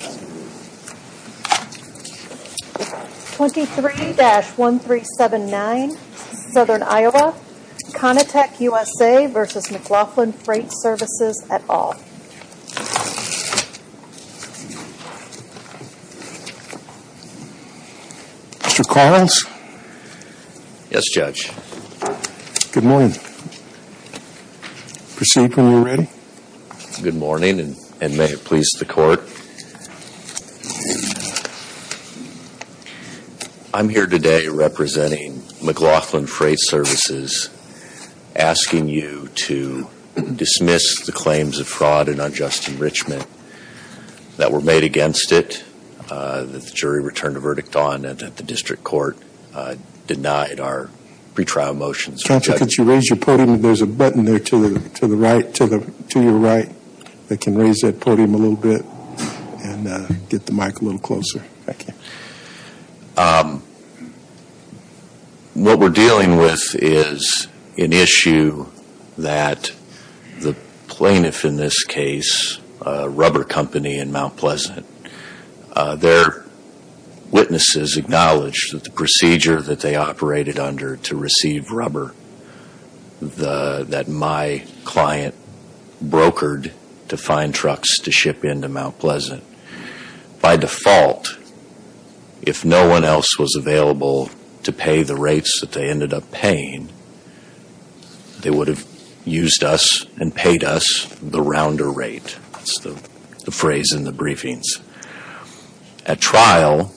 23-1379, Southern Iowa, Conitech USA, v. McLaughlin Freight Services, et al. Mr. Collins? Yes, Judge. Good morning. Proceed when you're ready. Good morning, and may it please the Court. I'm here today representing McLaughlin Freight Services asking you to dismiss the claims of fraud and unjust enrichment that were made against it, that the jury returned a verdict on, and that the district court denied our pretrial motions. Counsel, could you raise your podium? There's a button there to your right that can raise that podium a little bit and get the mic a little closer. Thank you. What we're dealing with is an issue that the plaintiff in this case, Rubber Company in Mount Pleasant, their witnesses acknowledged that the procedure that they operated under to receive rubber that my client brokered to find trucks to ship into Mount Pleasant, by default, if no one else was available to pay the rates that they ended up paying, they would have used us and paid us the rounder rate. That's the phrase in the briefings. At trial,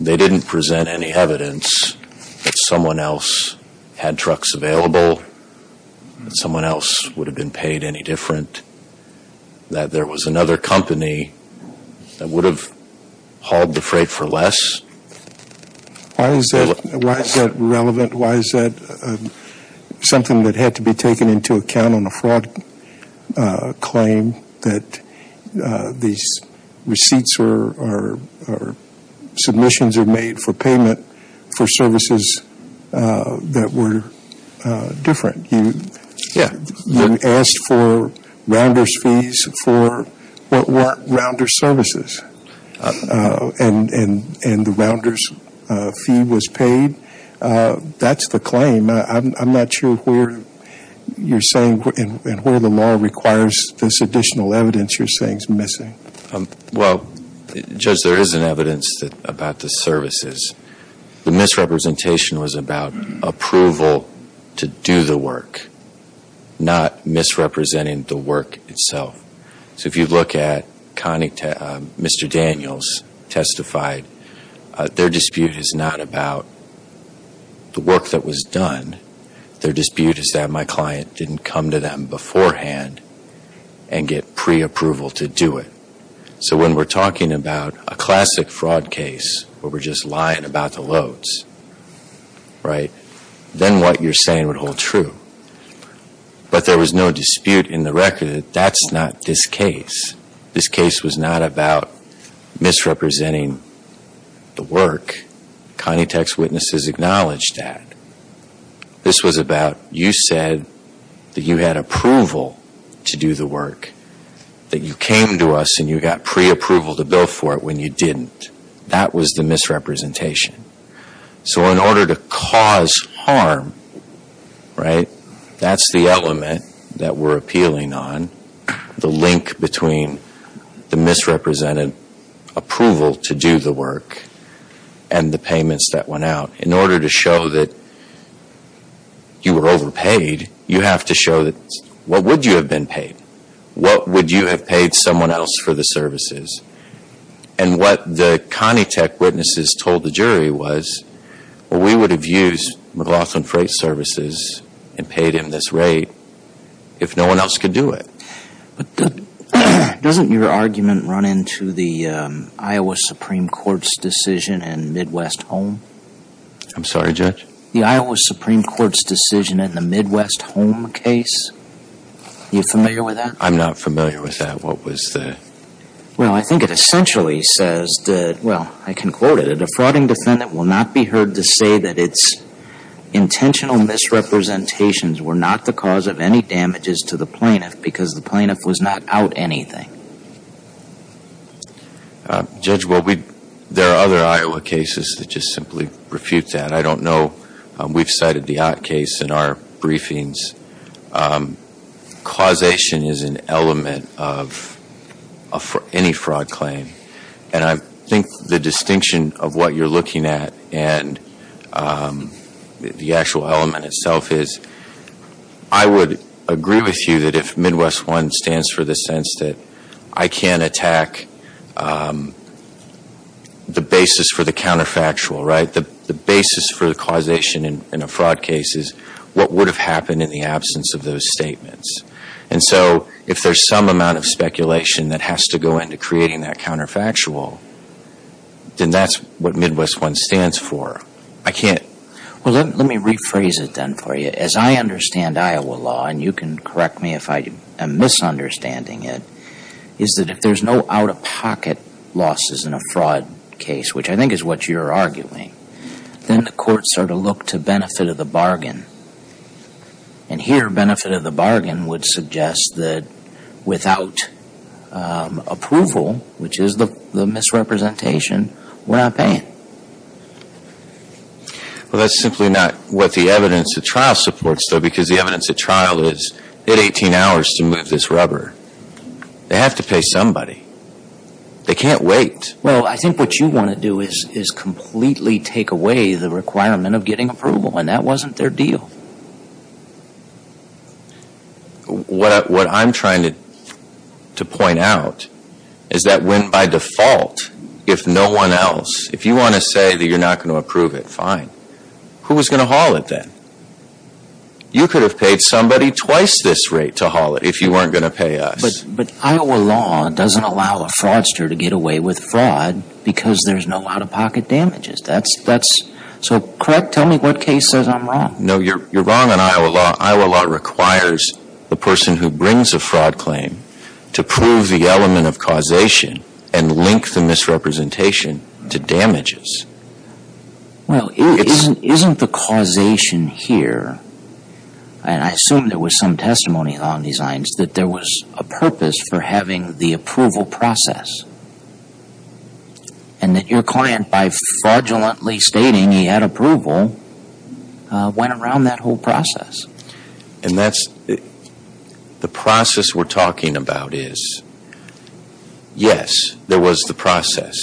they didn't present any evidence that someone else had trucks available, that someone else would have been paid any different, that there was another company that would have hauled the freight for less. Why is that relevant? Why is that something that had to be taken into account on a fraud claim, that these receipts or submissions are made for payment for services that were different? You asked for rounder's fees for what weren't rounder's services, and the rounder's fee was paid. That's the claim. I'm not sure where you're saying and where the law requires this additional evidence you're saying is missing. Well, Judge, there is an evidence about the services. The misrepresentation was about approval to do the work, not misrepresenting the work itself. So if you look at Mr. Daniels testified, their dispute is not about the work that was done. Their dispute is that my client didn't come to them beforehand and get preapproval to do it. So when we're talking about a classic fraud case where we're just lying about the loads, right, then what you're saying would hold true. But there was no dispute in the record that that's not this case. This case was not about misrepresenting the work. Connie Tech's witnesses acknowledged that. This was about you said that you had approval to do the work, that you came to us and you got preapproval to go for it when you didn't. That was the misrepresentation. So in order to cause harm, right, that's the element that we're appealing on, the link between the misrepresented approval to do the work and the payments that went out. In order to show that you were overpaid, you have to show that what would you have been paid? What would you have paid someone else for the services? And what the Connie Tech witnesses told the jury was, well, we would have used McLaughlin Freight Services and paid him this rate if no one else could do it. But doesn't your argument run into the Iowa Supreme Court's decision in Midwest Home? I'm sorry, Judge? The Iowa Supreme Court's decision in the Midwest Home case. Are you familiar with that? I'm not familiar with that. What was the? Well, I think it essentially says that, well, I can quote it, a defrauding defendant will not be heard to say that its intentional misrepresentations were not the cause of any damages to the plaintiff because the plaintiff was not out anything. Judge, there are other Iowa cases that just simply refute that. I don't know. We've cited the Ott case in our briefings. Causation is an element of any fraud claim. And I think the distinction of what you're looking at and the actual element itself is I would agree with you that if Midwest One stands for the sense that I can't attack the basis for the counterfactual, right, the basis for the causation in a fraud case is what would have happened in the absence of those statements. And so if there's some amount of speculation that has to go into creating that counterfactual, then that's what Midwest One stands for. I can't. Well, let me rephrase it then for you. As I understand Iowa law, and you can correct me if I am misunderstanding it, is that if there's no out-of-pocket losses in a fraud case, which I think is what you're arguing, then the courts are to look to benefit of the bargain. And here benefit of the bargain would suggest that without approval, which is the misrepresentation, we're not paying. Well, that's simply not what the evidence at trial supports, though, because the evidence at trial is they had 18 hours to move this rubber. They have to pay somebody. They can't wait. Well, I think what you want to do is completely take away the requirement of getting approval, and that wasn't their deal. What I'm trying to point out is that when by default if no one else, if you want to say that you're not going to approve it, fine. Who was going to haul it then? You could have paid somebody twice this rate to haul it if you weren't going to pay us. But Iowa law doesn't allow a fraudster to get away with fraud because there's no out-of-pocket damages. That's so correct. Tell me what case says I'm wrong. No, you're wrong on Iowa law. Iowa law requires the person who brings a fraud claim to prove the element of causation and link the misrepresentation to damages. Well, isn't the causation here, and I assume there was some testimony on these lines, that there was a purpose for having the approval process, and that your client by fraudulently stating he had approval went around that whole process? And that's the process we're talking about is, yes, there was the process.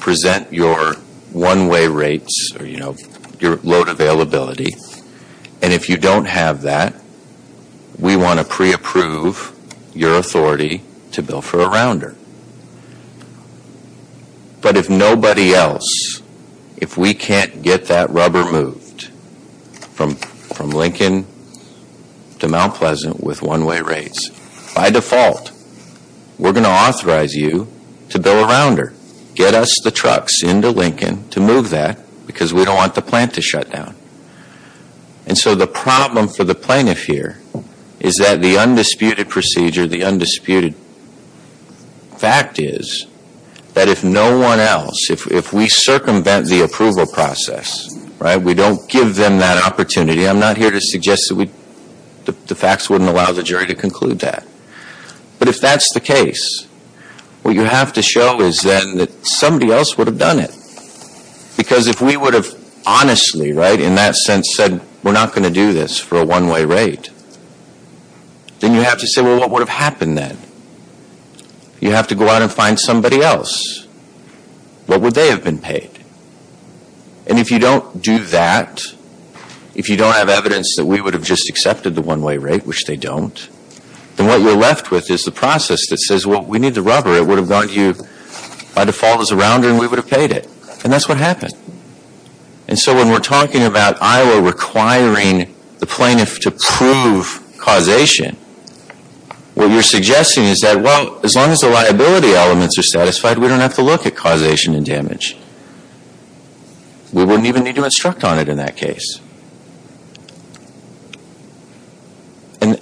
Present your one-way rates or your load availability. And if you don't have that, we want to pre-approve your authority to bill for a rounder. But if nobody else, if we can't get that rubber moved from Lincoln to Mount Pleasant with one-way rates, by default, we're going to authorize you to bill a rounder. Get us the trucks into Lincoln to move that because we don't want the plant to shut down. And so the problem for the plaintiff here is that the undisputed procedure, the undisputed fact is that if no one else, if we circumvent the approval process, we don't give them that opportunity. I'm not here to suggest that the facts wouldn't allow the jury to conclude that. But if that's the case, what you have to show is then that somebody else would have done it. Because if we would have honestly, right, in that sense said we're not going to do this for a one-way rate, then you have to say, well, what would have happened then? You have to go out and find somebody else. What would they have been paid? And if you don't do that, if you don't have evidence that we would have just accepted the one-way rate, which they don't, then what you're left with is the process that says, well, we need the rubber. It would have gone to you by default as a rounder and we would have paid it. And that's what happened. And so when we're talking about Iowa requiring the plaintiff to prove causation, what you're suggesting is that, well, as long as the liability elements are satisfied, we don't have to look at causation and damage. We wouldn't even need to instruct on it in that case.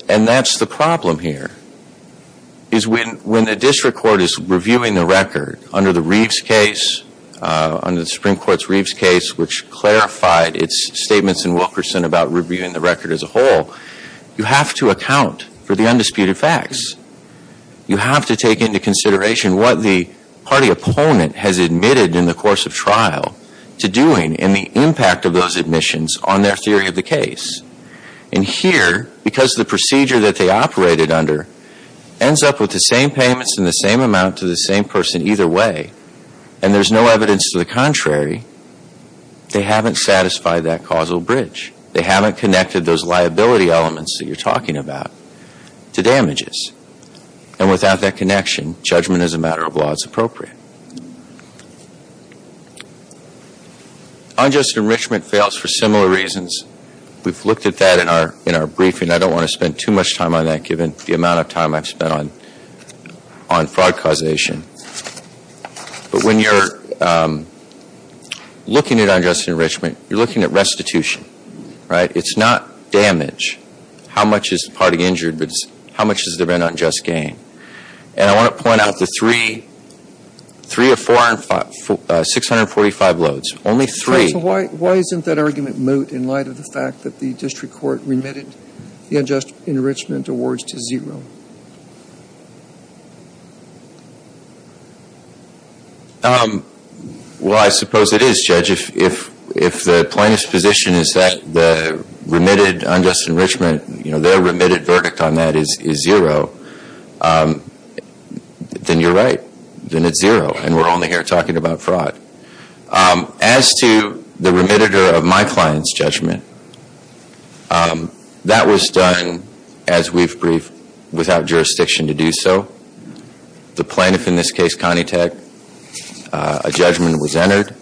And that's the problem here, is when the district court is reviewing the record under the Reeves case, under the Supreme Court's Reeves case, which clarified its statements in Wilkerson about reviewing the record as a whole, you have to account for the undisputed facts. You have to take into consideration what the party opponent has admitted in the course of trial to doing and the impact of those admissions on their theory of the case. And here, because the procedure that they operated under ends up with the same payments and the same amount to the same person either way, and there's no evidence to the contrary, they haven't satisfied that causal bridge. They haven't connected those liability elements that you're talking about to damages. And without that connection, judgment as a matter of law is appropriate. Unjust enrichment fails for similar reasons. We've looked at that in our briefing. I don't want to spend too much time on that given the amount of time I've spent on fraud causation. But when you're looking at unjust enrichment, you're looking at restitution, right? It's not damage. How much is the party injured? How much has there been unjust gain? And I want to point out the three or four, 645 loads. Only three. So why isn't that argument moot in light of the fact that the district court remitted the unjust enrichment awards to zero? Well, I suppose it is, Judge. If the plaintiff's position is that the remitted unjust enrichment, you know, their remitted verdict on that is zero, then you're right. Then it's zero, and we're only here talking about fraud. As to the remitter of my client's judgment, that was done, as we've briefed, without jurisdiction to do so. The plaintiff, in this case, Connie Tech, a judgment was entered.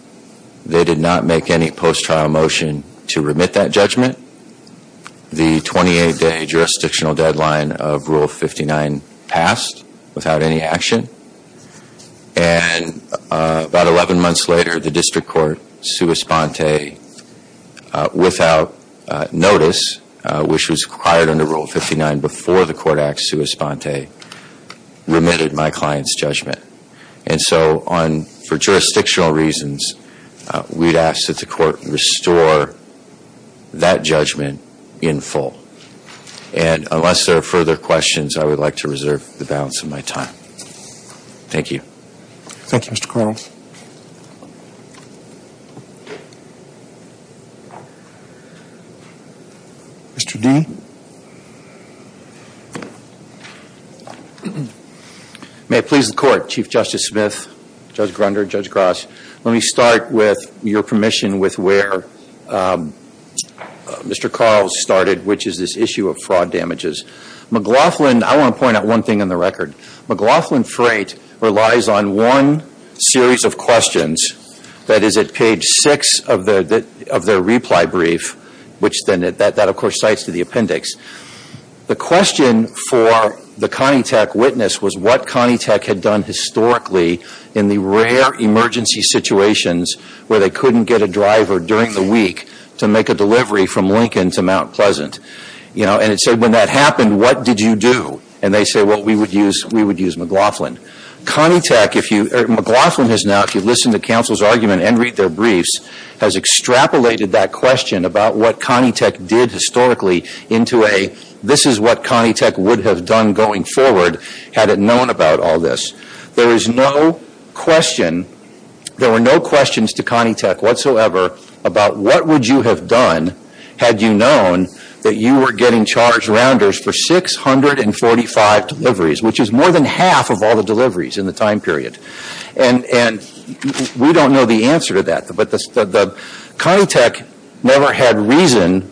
They did not make any post-trial motion to remit that judgment. The 28-day jurisdictional deadline of Rule 59 passed without any action. And about 11 months later, the district court, sua sponte, without notice, which was required under Rule 59 before the court act, sua sponte, remitted my client's judgment. And so for jurisdictional reasons, we'd ask that the court restore that judgment in full. And unless there are further questions, I would like to reserve the balance of my time. Thank you. Thank you, Mr. Carles. Mr. D? May it please the Court, Chief Justice Smith, Judge Grunder, Judge Gross, let me start, with your permission, with where Mr. Carles started, which is this issue of fraud damages. McLaughlin, I want to point out one thing on the record. McLaughlin Freight relies on one series of questions that is at page 6 of their reply brief, which then, that of course, cites to the appendix. The question for the Connie Tech witness was what Connie Tech had done historically in the rare emergency situations where they couldn't get a driver during the week to make a delivery from Lincoln to Mount Pleasant. You know, and it said, when that happened, what did you do? And they say, well, we would use McLaughlin. Connie Tech, if you, McLaughlin has now, if you listen to counsel's argument and read their briefs, has extrapolated that question about what Connie Tech did historically into a, this is what Connie Tech would have done going forward had it known about all this. There is no question, there were no questions to Connie Tech whatsoever about what would you have done had you known that you were getting charged rounders for 645 deliveries, which is more than half of all the deliveries in the time period. And we don't know the answer to that. But Connie Tech never had reason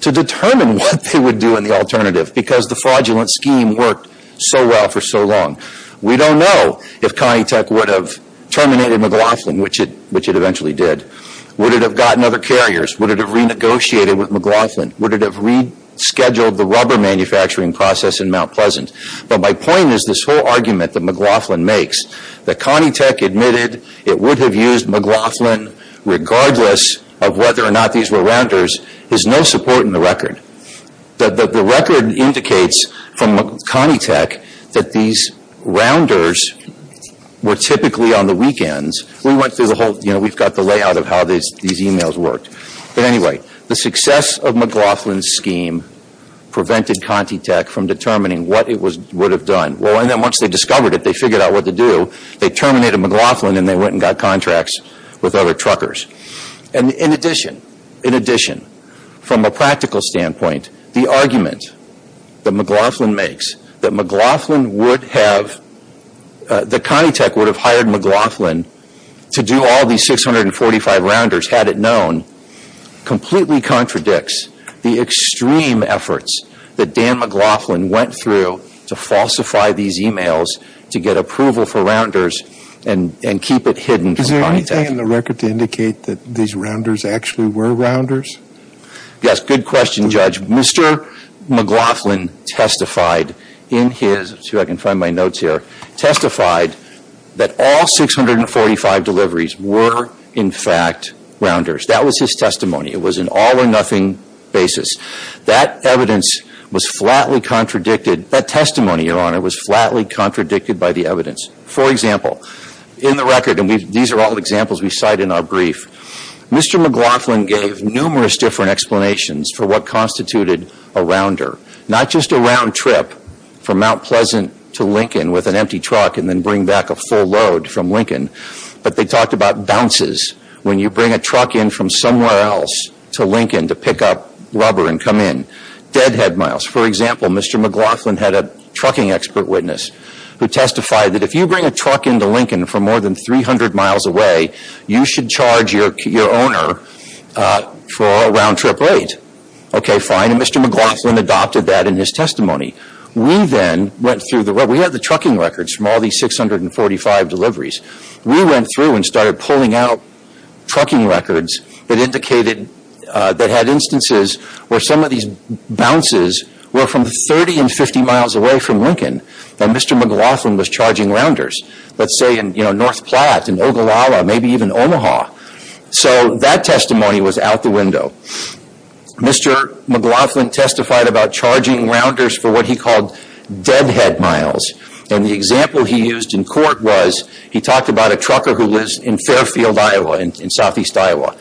to determine what they would do in the alternative because the fraudulent scheme worked so well for so long. We don't know if Connie Tech would have terminated McLaughlin, which it eventually did. Would it have gotten other carriers? Would it have renegotiated with McLaughlin? Would it have rescheduled the rubber manufacturing process in Mount Pleasant? But my point is this whole argument that McLaughlin makes, that Connie Tech admitted it would have used McLaughlin regardless of whether or not these were rounders, is no support in the record. The record indicates from Connie Tech that these rounders were typically on the weekends. We went through the whole, you know, we've got the layout of how these emails worked. But anyway, the success of McLaughlin's scheme prevented Connie Tech from determining what it would have done. Well, and then once they discovered it, they figured out what to do. They terminated McLaughlin and they went and got contracts with other truckers. And in addition, in addition, from a practical standpoint, the argument that McLaughlin makes that McLaughlin would have, that Connie Tech would have hired McLaughlin to do all these 645 rounders had it known completely contradicts the extreme efforts that Dan McLaughlin went through to falsify these emails to get approval for rounders and keep it hidden from Connie Tech. Is there anything in the record to indicate that these rounders actually were rounders? Yes, good question, Judge. Mr. McLaughlin testified in his, let's see if I can find my notes here, testified that all 645 deliveries were in fact rounders. That was his testimony. It was an all or nothing basis. That evidence was flatly contradicted. That testimony, Your Honor, was flatly contradicted by the evidence. For example, in the record, and these are all examples we cite in our brief, Mr. McLaughlin gave numerous different explanations for what constituted a rounder. Not just a round trip from Mount Pleasant to Lincoln with an empty truck and then bring back a full load from Lincoln, but they talked about bounces when you bring a truck in from somewhere else to Lincoln to pick up rubber and come in. Deadhead miles. For example, Mr. McLaughlin had a trucking expert witness who testified that if you bring a truck into Lincoln from more than 300 miles away, you should charge your owner for a round trip rate. Okay, fine, and Mr. McLaughlin adopted that in his testimony. We then went through the, well, we have the trucking records from all these 645 deliveries. We went through and started pulling out trucking records that indicated, that had instances where some of these bounces were from 30 and 50 miles away from Lincoln that Mr. McLaughlin was charging rounders. Let's say in, you know, North Platte and Ogallala, maybe even Omaha. So that testimony was out the window. Mr. McLaughlin testified about charging rounders for what he called deadhead miles. And the example he used in court was, he talked about a trucker who lives in Fairfield, Iowa, in Southeast Iowa.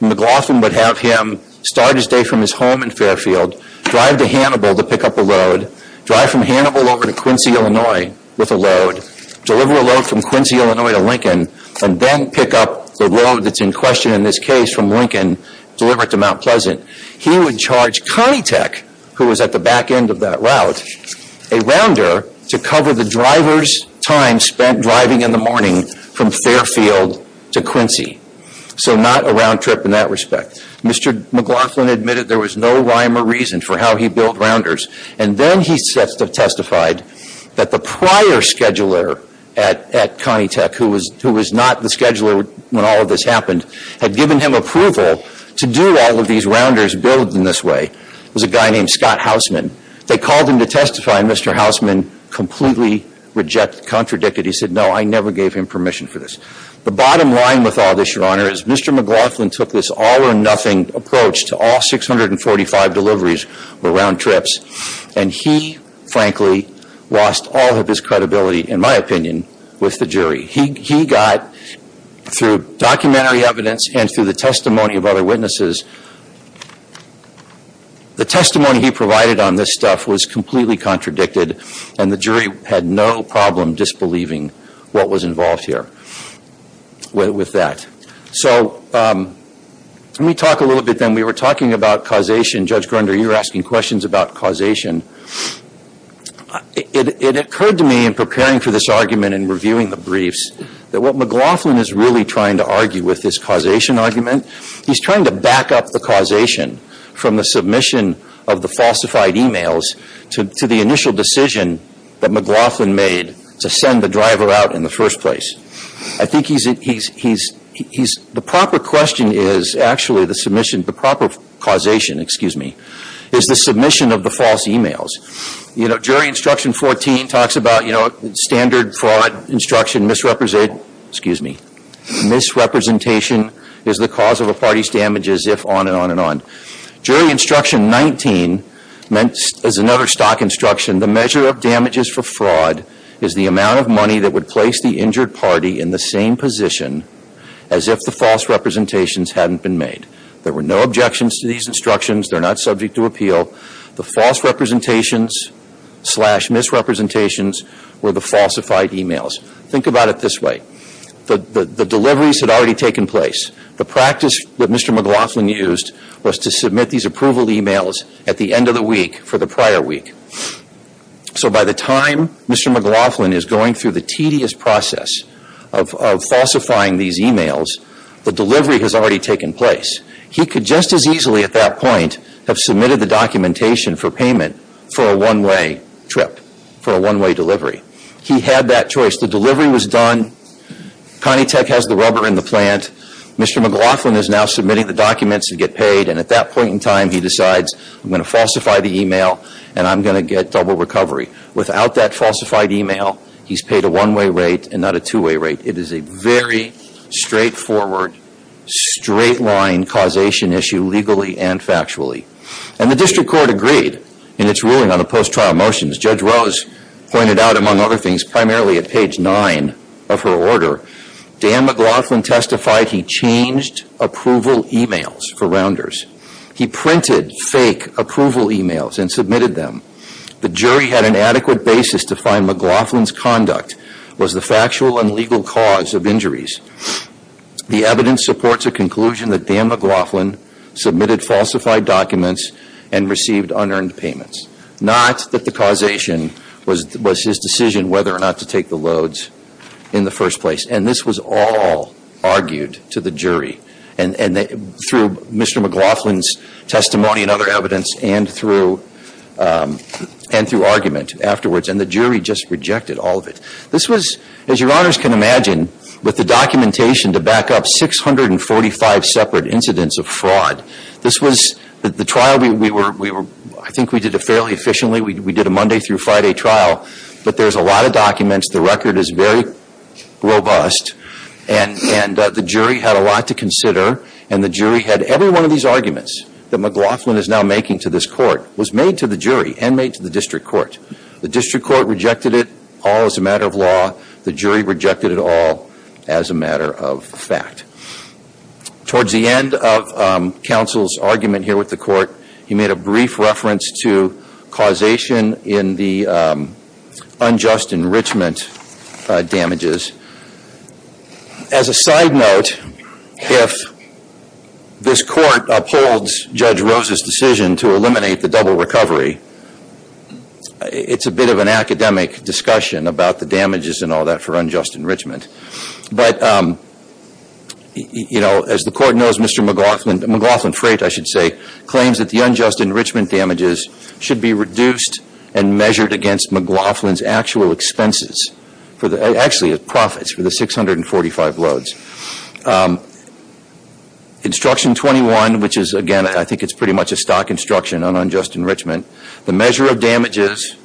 McLaughlin would have him start his day from his home in Fairfield, drive to Hannibal to pick up a load, drive from Hannibal over to Quincy, Illinois with a load, deliver a load from Quincy, Illinois to Lincoln, and then pick up the load that's in question in this case from Lincoln, deliver it to Mount Pleasant. He would charge Conitech, who was at the back end of that route, a rounder to cover the driver's time spent driving in the morning from Fairfield to Quincy. So not a round trip in that respect. Mr. McLaughlin admitted there was no rhyme or reason for how he billed rounders. And then he testified that the prior scheduler at Conitech, who was not the scheduler when all of this happened, had given him approval to do all of these rounders billed in this way. It was a guy named Scott Hausman. They called him to testify, and Mr. Hausman completely contradicted. He said, no, I never gave him permission for this. The bottom line with all this, Your Honor, is Mr. McLaughlin took this all or nothing approach to all 645 deliveries or round trips, and he, frankly, lost all of his credibility, in my opinion, with the jury. He got, through documentary evidence and through the testimony of other witnesses, the testimony he provided on this stuff was completely contradicted, and the jury had no problem disbelieving what was involved here with that. So let me talk a little bit then. We were talking about causation. Judge Grunder, you were asking questions about causation. It occurred to me in preparing for this argument and reviewing the briefs that what McLaughlin is really trying to argue with this causation argument, he's trying to back up the causation from the submission of the falsified e-mails to the initial decision that McLaughlin made to send the driver out in the first place. I think he's, the proper question is, actually, the submission, the proper causation, excuse me, is the submission of the false e-mails. You know, jury instruction 14 talks about, you know, standard fraud instruction misrepresentation, excuse me, misrepresentation is the cause of a party's damages, if, on and on and on. Jury instruction 19 is another stock instruction. The measure of damages for fraud is the amount of money that would place the injured party in the same position as if the false representations hadn't been made. There were no objections to these instructions. They're not subject to appeal. The false representations slash misrepresentations were the falsified e-mails. Think about it this way. The deliveries had already taken place. The practice that Mr. McLaughlin used was to submit these approval e-mails at the end of the week for the prior week. So by the time Mr. McLaughlin is going through the tedious process of falsifying these e-mails, the delivery has already taken place. He could just as easily at that point have submitted the documentation for payment for a one-way trip, for a one-way delivery. He had that choice. The delivery was done. Connie Tech has the rubber in the plant. Mr. McLaughlin is now submitting the documents to get paid, and at that point in time he decides, I'm going to falsify the e-mail, and I'm going to get double recovery. Without that falsified e-mail, he's paid a one-way rate and not a two-way rate. It is a very straightforward, straight-line causation issue legally and factually. And the district court agreed in its ruling on the post-trial motions. Judge Rose pointed out, among other things, primarily at page 9 of her order, Dan McLaughlin testified he changed approval e-mails for rounders. He printed fake approval e-mails and submitted them. The jury had an adequate basis to find McLaughlin's conduct was the factual and legal cause of injuries. The evidence supports a conclusion that Dan McLaughlin submitted falsified documents and received unearned payments, not that the causation was his decision whether or not to take the loads in the first place. And this was all argued to the jury through Mr. McLaughlin's testimony and other evidence and through argument afterwards. And the jury just rejected all of it. This was, as your honors can imagine, with the documentation to back up 645 separate incidents of fraud. This was the trial we were, I think we did it fairly efficiently. We did a Monday through Friday trial. But there's a lot of documents. The record is very robust. And the jury had a lot to consider. And the jury had every one of these arguments that McLaughlin is now making to this court was made to the jury and made to the district court. The district court rejected it all as a matter of law. The jury rejected it all as a matter of fact. Towards the end of counsel's argument here with the court, he made a brief reference to causation in the unjust enrichment damages. As a side note, if this court upholds Judge Rose's decision to eliminate the double recovery, it's a bit of an academic discussion about the damages and all that for unjust enrichment. But, you know, as the court knows, Mr. McLaughlin, McLaughlin Freight I should say, claims that the unjust enrichment damages should be reduced and measured against McLaughlin's actual expenses. Actually, his profits for the 645 loads. Instruction 21, which is, again, I think it's pretty much a stock instruction on unjust enrichment. The measure of damages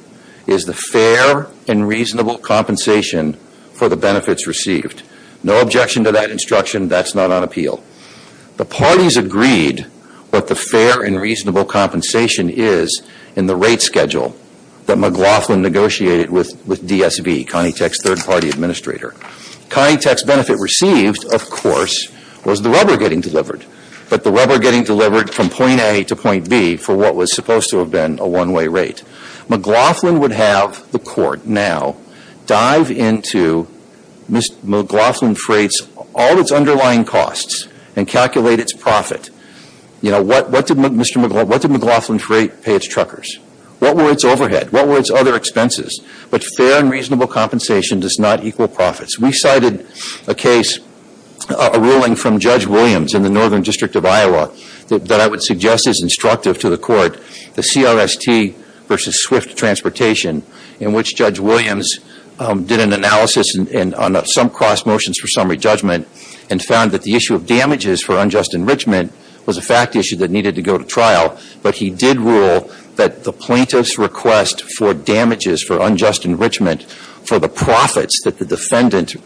is the fair and reasonable compensation for the benefits received. No objection to that instruction. That's not on appeal. The parties agreed what the fair and reasonable compensation is in the rate schedule that McLaughlin negotiated with DSB, Connie Tech's third party administrator. Connie Tech's benefit received, of course, was the rubber getting delivered. But the rubber getting delivered from point A to point B for what was supposed to have been a one-way rate. McLaughlin would have the court now dive into McLaughlin Freight's all its underlying costs and calculate its profit. You know, what did McLaughlin Freight pay its truckers? What were its overhead? What were its other expenses? But fair and reasonable compensation does not equal profits. We cited a case, a ruling from Judge Williams in the Northern District of Iowa that I would suggest is instructive to the court. The CRST versus Swift Transportation in which Judge Williams did an analysis on some cross motions for summary judgment and found that the issue of damages for unjust enrichment was a fact issue that needed to go to trial. But he did rule that the plaintiff's request for damages for unjust enrichment for the profits that the defendant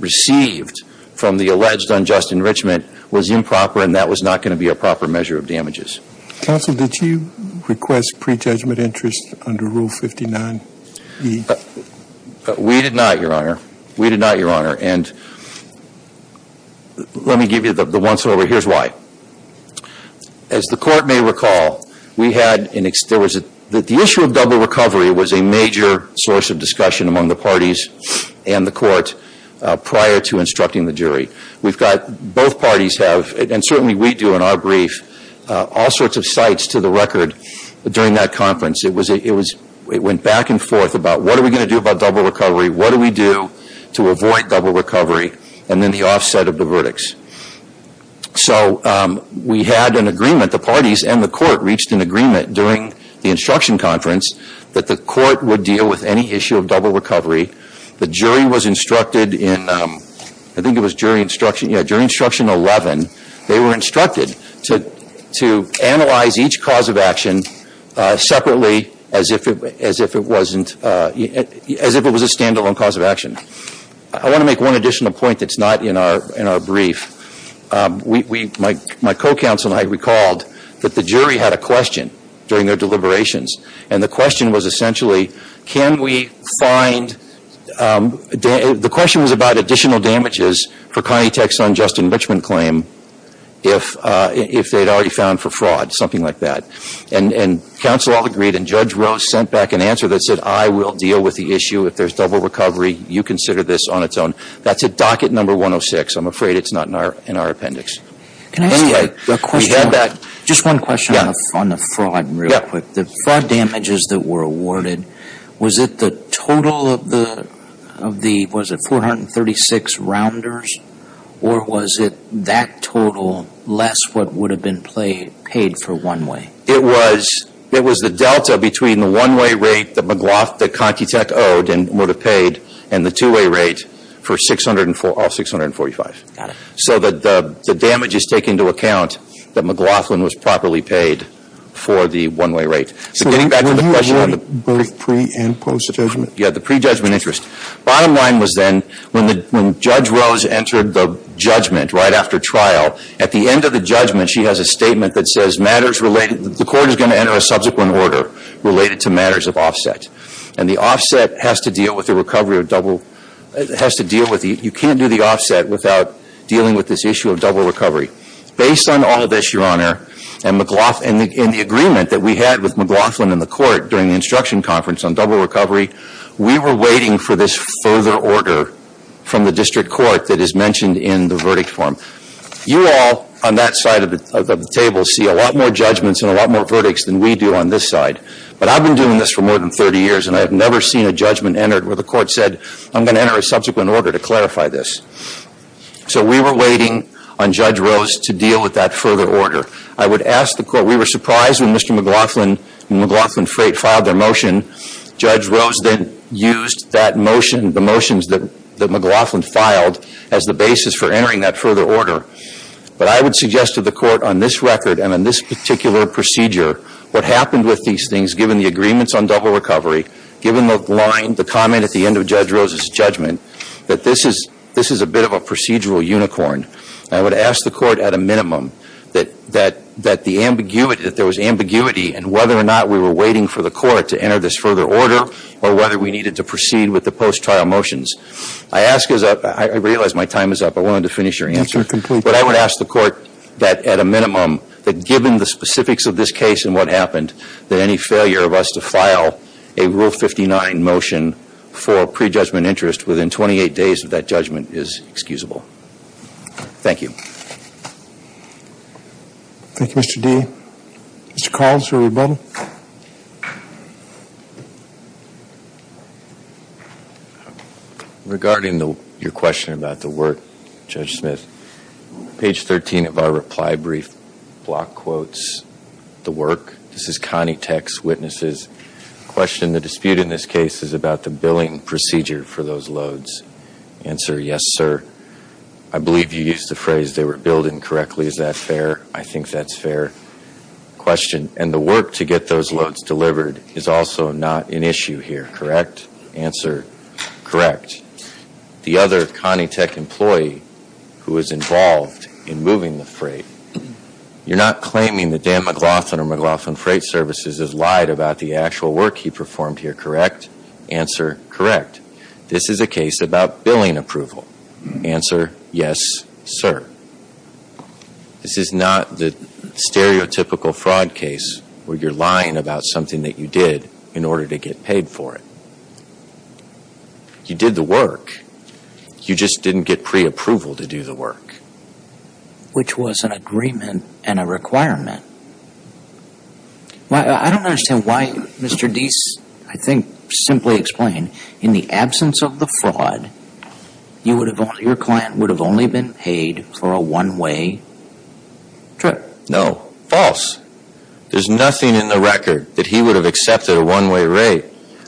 received from the alleged unjust enrichment was improper and that was not going to be a proper measure of damages. Counsel, did you request pre-judgment interest under Rule 59e? We did not, Your Honor. We did not, Your Honor. And let me give you the once-over. Here's why. As the court may recall, the issue of double recovery was a major source of discussion among the parties and the court prior to instructing the jury. Both parties have, and certainly we do in our brief, all sorts of sites to the record during that conference. It went back and forth about what are we going to do about double recovery, what do we do to avoid double recovery, and then the offset of the verdicts. So we had an agreement, the parties and the court reached an agreement during the instruction conference that the court would deal with any issue of double recovery. The jury was instructed in, I think it was jury instruction, yeah, jury instruction 11. They were instructed to analyze each cause of action separately as if it was a stand-alone cause of action. I want to make one additional point that's not in our brief. My co-counsel and I recalled that the jury had a question during their deliberations, and the question was essentially, can we find, the question was about additional damages for Connie Tech's son, Justin Richman's claim, if they had already found for fraud, something like that. And counsel all agreed, and Judge Rose sent back an answer that said, I will deal with the issue if there's double recovery. You consider this on its own. That's at docket number 106. I'm afraid it's not in our appendix. Can I ask a question? We had that. Just one question on the fraud real quick. The fraud damages that were awarded, was it the total of the, was it 436 rounders, or was it that total less what would have been paid for one way? It was, it was the delta between the one-way rate that McLaughlin, that Connie Tech owed and would have paid, and the two-way rate for all 645. Got it. So the damage is taken into account that McLaughlin was properly paid for the one-way rate. So getting back to the question on the. So were you aware of both pre- and post-judgment? Yeah, the pre-judgment interest. Bottom line was then, when Judge Rose entered the judgment right after trial, at the end of the judgment she has a statement that says matters related, the court is going to enter a subsequent order related to matters of offset. And the offset has to deal with the recovery of double, has to deal with, you can't do the offset without dealing with this issue of double recovery. Based on all of this, Your Honor, and McLaughlin, and the agreement that we had with McLaughlin and the court during the instruction conference on double recovery, we were waiting for this further order from the district court that is mentioned in the verdict form. You all on that side of the table see a lot more judgments and a lot more verdicts than we do on this side. But I've been doing this for more than 30 years, and I've never seen a judgment entered where the court said, I'm going to enter a subsequent order to clarify this. So we were waiting on Judge Rose to deal with that further order. I would ask the court, we were surprised when Mr. McLaughlin and McLaughlin Freight filed their motion. Judge Rose then used that motion, the motions that McLaughlin filed, as the basis for entering that further order. But I would suggest to the court on this record and on this particular procedure, what happened with these things given the agreements on double recovery, given the line, the comment at the end of Judge Rose's judgment, that this is a bit of a procedural unicorn. I would ask the court at a minimum that the ambiguity, that there was ambiguity in whether or not we were waiting for the court to enter this further order, or whether we needed to proceed with the post-trial motions. I ask, I realize my time is up, I wanted to finish your answer. But I would ask the court that at a minimum, that given the specifics of this case and what happened, that any failure of us to file a Rule 59 motion for prejudgment interest within 28 days of that judgment is excusable. Thank you. Thank you, Mr. D. Mr. Collins, everybody. Regarding your question about the work, Judge Smith, page 13 of our reply brief block quotes, the work, this is Connie Tex, witnesses. Question, the dispute in this case is about the billing procedure for those loads. Answer, yes, sir. I believe you used the phrase, they were billed incorrectly. Is that fair? I think that's fair. Question, and the work to get those loads delivered is also not an issue here, correct? Answer, correct. The other Connie Tex employee who was involved in moving the freight, you're not claiming that Dan McLaughlin or McLaughlin Freight Services has lied about the actual work he performed here, correct? Answer, correct. This is a case about billing approval. Answer, yes, sir. This is not the stereotypical fraud case where you're lying about something that you did in order to get paid for it. You did the work. You just didn't get preapproval to do the work. Which was an agreement and a requirement. I don't understand why Mr. Deese, I think, simply explained, in the absence of the fraud, your client would have only been paid for a one-way trip. No, false. There's nothing in the record that he would have accepted a one-way rate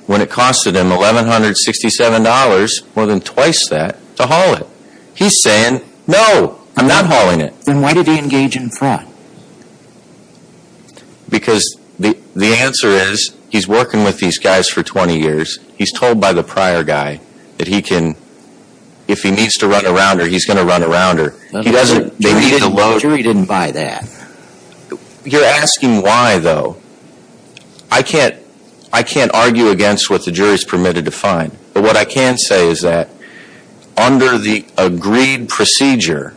when it costed him $1,167, more than twice that, to haul it. He's saying, no, I'm not hauling it. Then why did he engage in fraud? Because the answer is, he's working with these guys for 20 years. He's told by the prior guy that if he needs to run around her, he's going to run around her. The jury didn't buy that. You're asking why, though. I can't argue against what the jury's permitted to find. But what I can say is that, under the agreed procedure,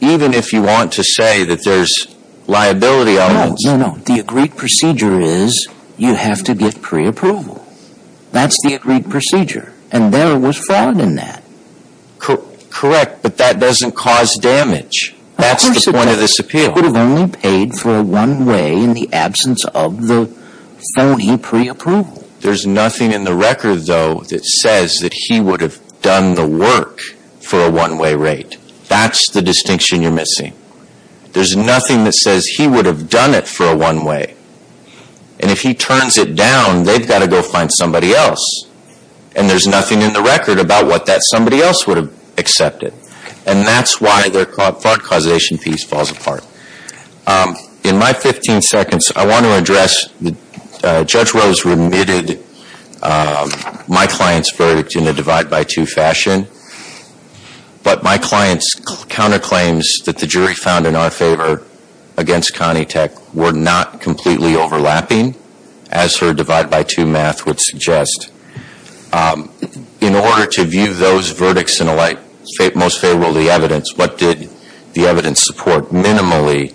even if you want to say that there's liability elements. No, no, no. The agreed procedure is, you have to get preapproval. That's the agreed procedure. And there was fraud in that. Correct. But that doesn't cause damage. That's the point of this appeal. Of course it does. He would have only paid for a one-way in the absence of the phony preapproval. There's nothing in the record, though, that says that he would have done the work for a one-way rate. That's the distinction you're missing. There's nothing that says he would have done it for a one-way. And if he turns it down, they've got to go find somebody else. And there's nothing in the record about what that somebody else would have accepted. And that's why their fraud causation piece falls apart. In my 15 seconds, I want to address, Judge Rose remitted my client's verdict in a divide-by-two fashion. But my client's counterclaims that the jury found in our favor against Connie Tech were not completely overlapping, as her divide-by-two math would suggest. In order to view those verdicts in a light, most favorable to the evidence, what did the evidence support? Minimally,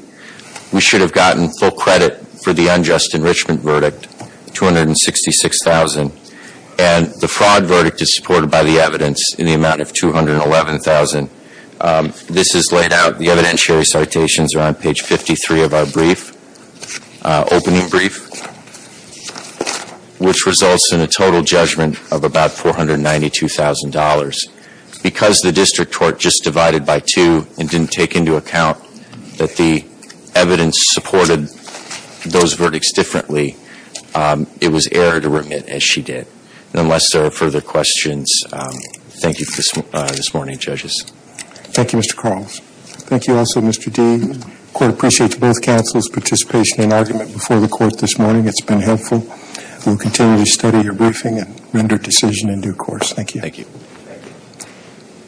we should have gotten full credit for the unjust enrichment verdict, $266,000. And the fraud verdict is supported by the evidence in the amount of $211,000. This is laid out. The evidentiary citations are on page 53 of our brief, opening brief, which results in a total judgment of about $492,000. Because the district court just divided by two and didn't take into account that the evidence supported those verdicts differently, it was error to remit, as she did. And unless there are further questions, thank you for this morning, judges. Thank you, Mr. Carls. Thank you also, Mr. Dee. I quite appreciate both counsel's participation and argument before the court this morning. It's been helpful. We'll continue to study your briefing and render decision in due course. Thank you. Thank you.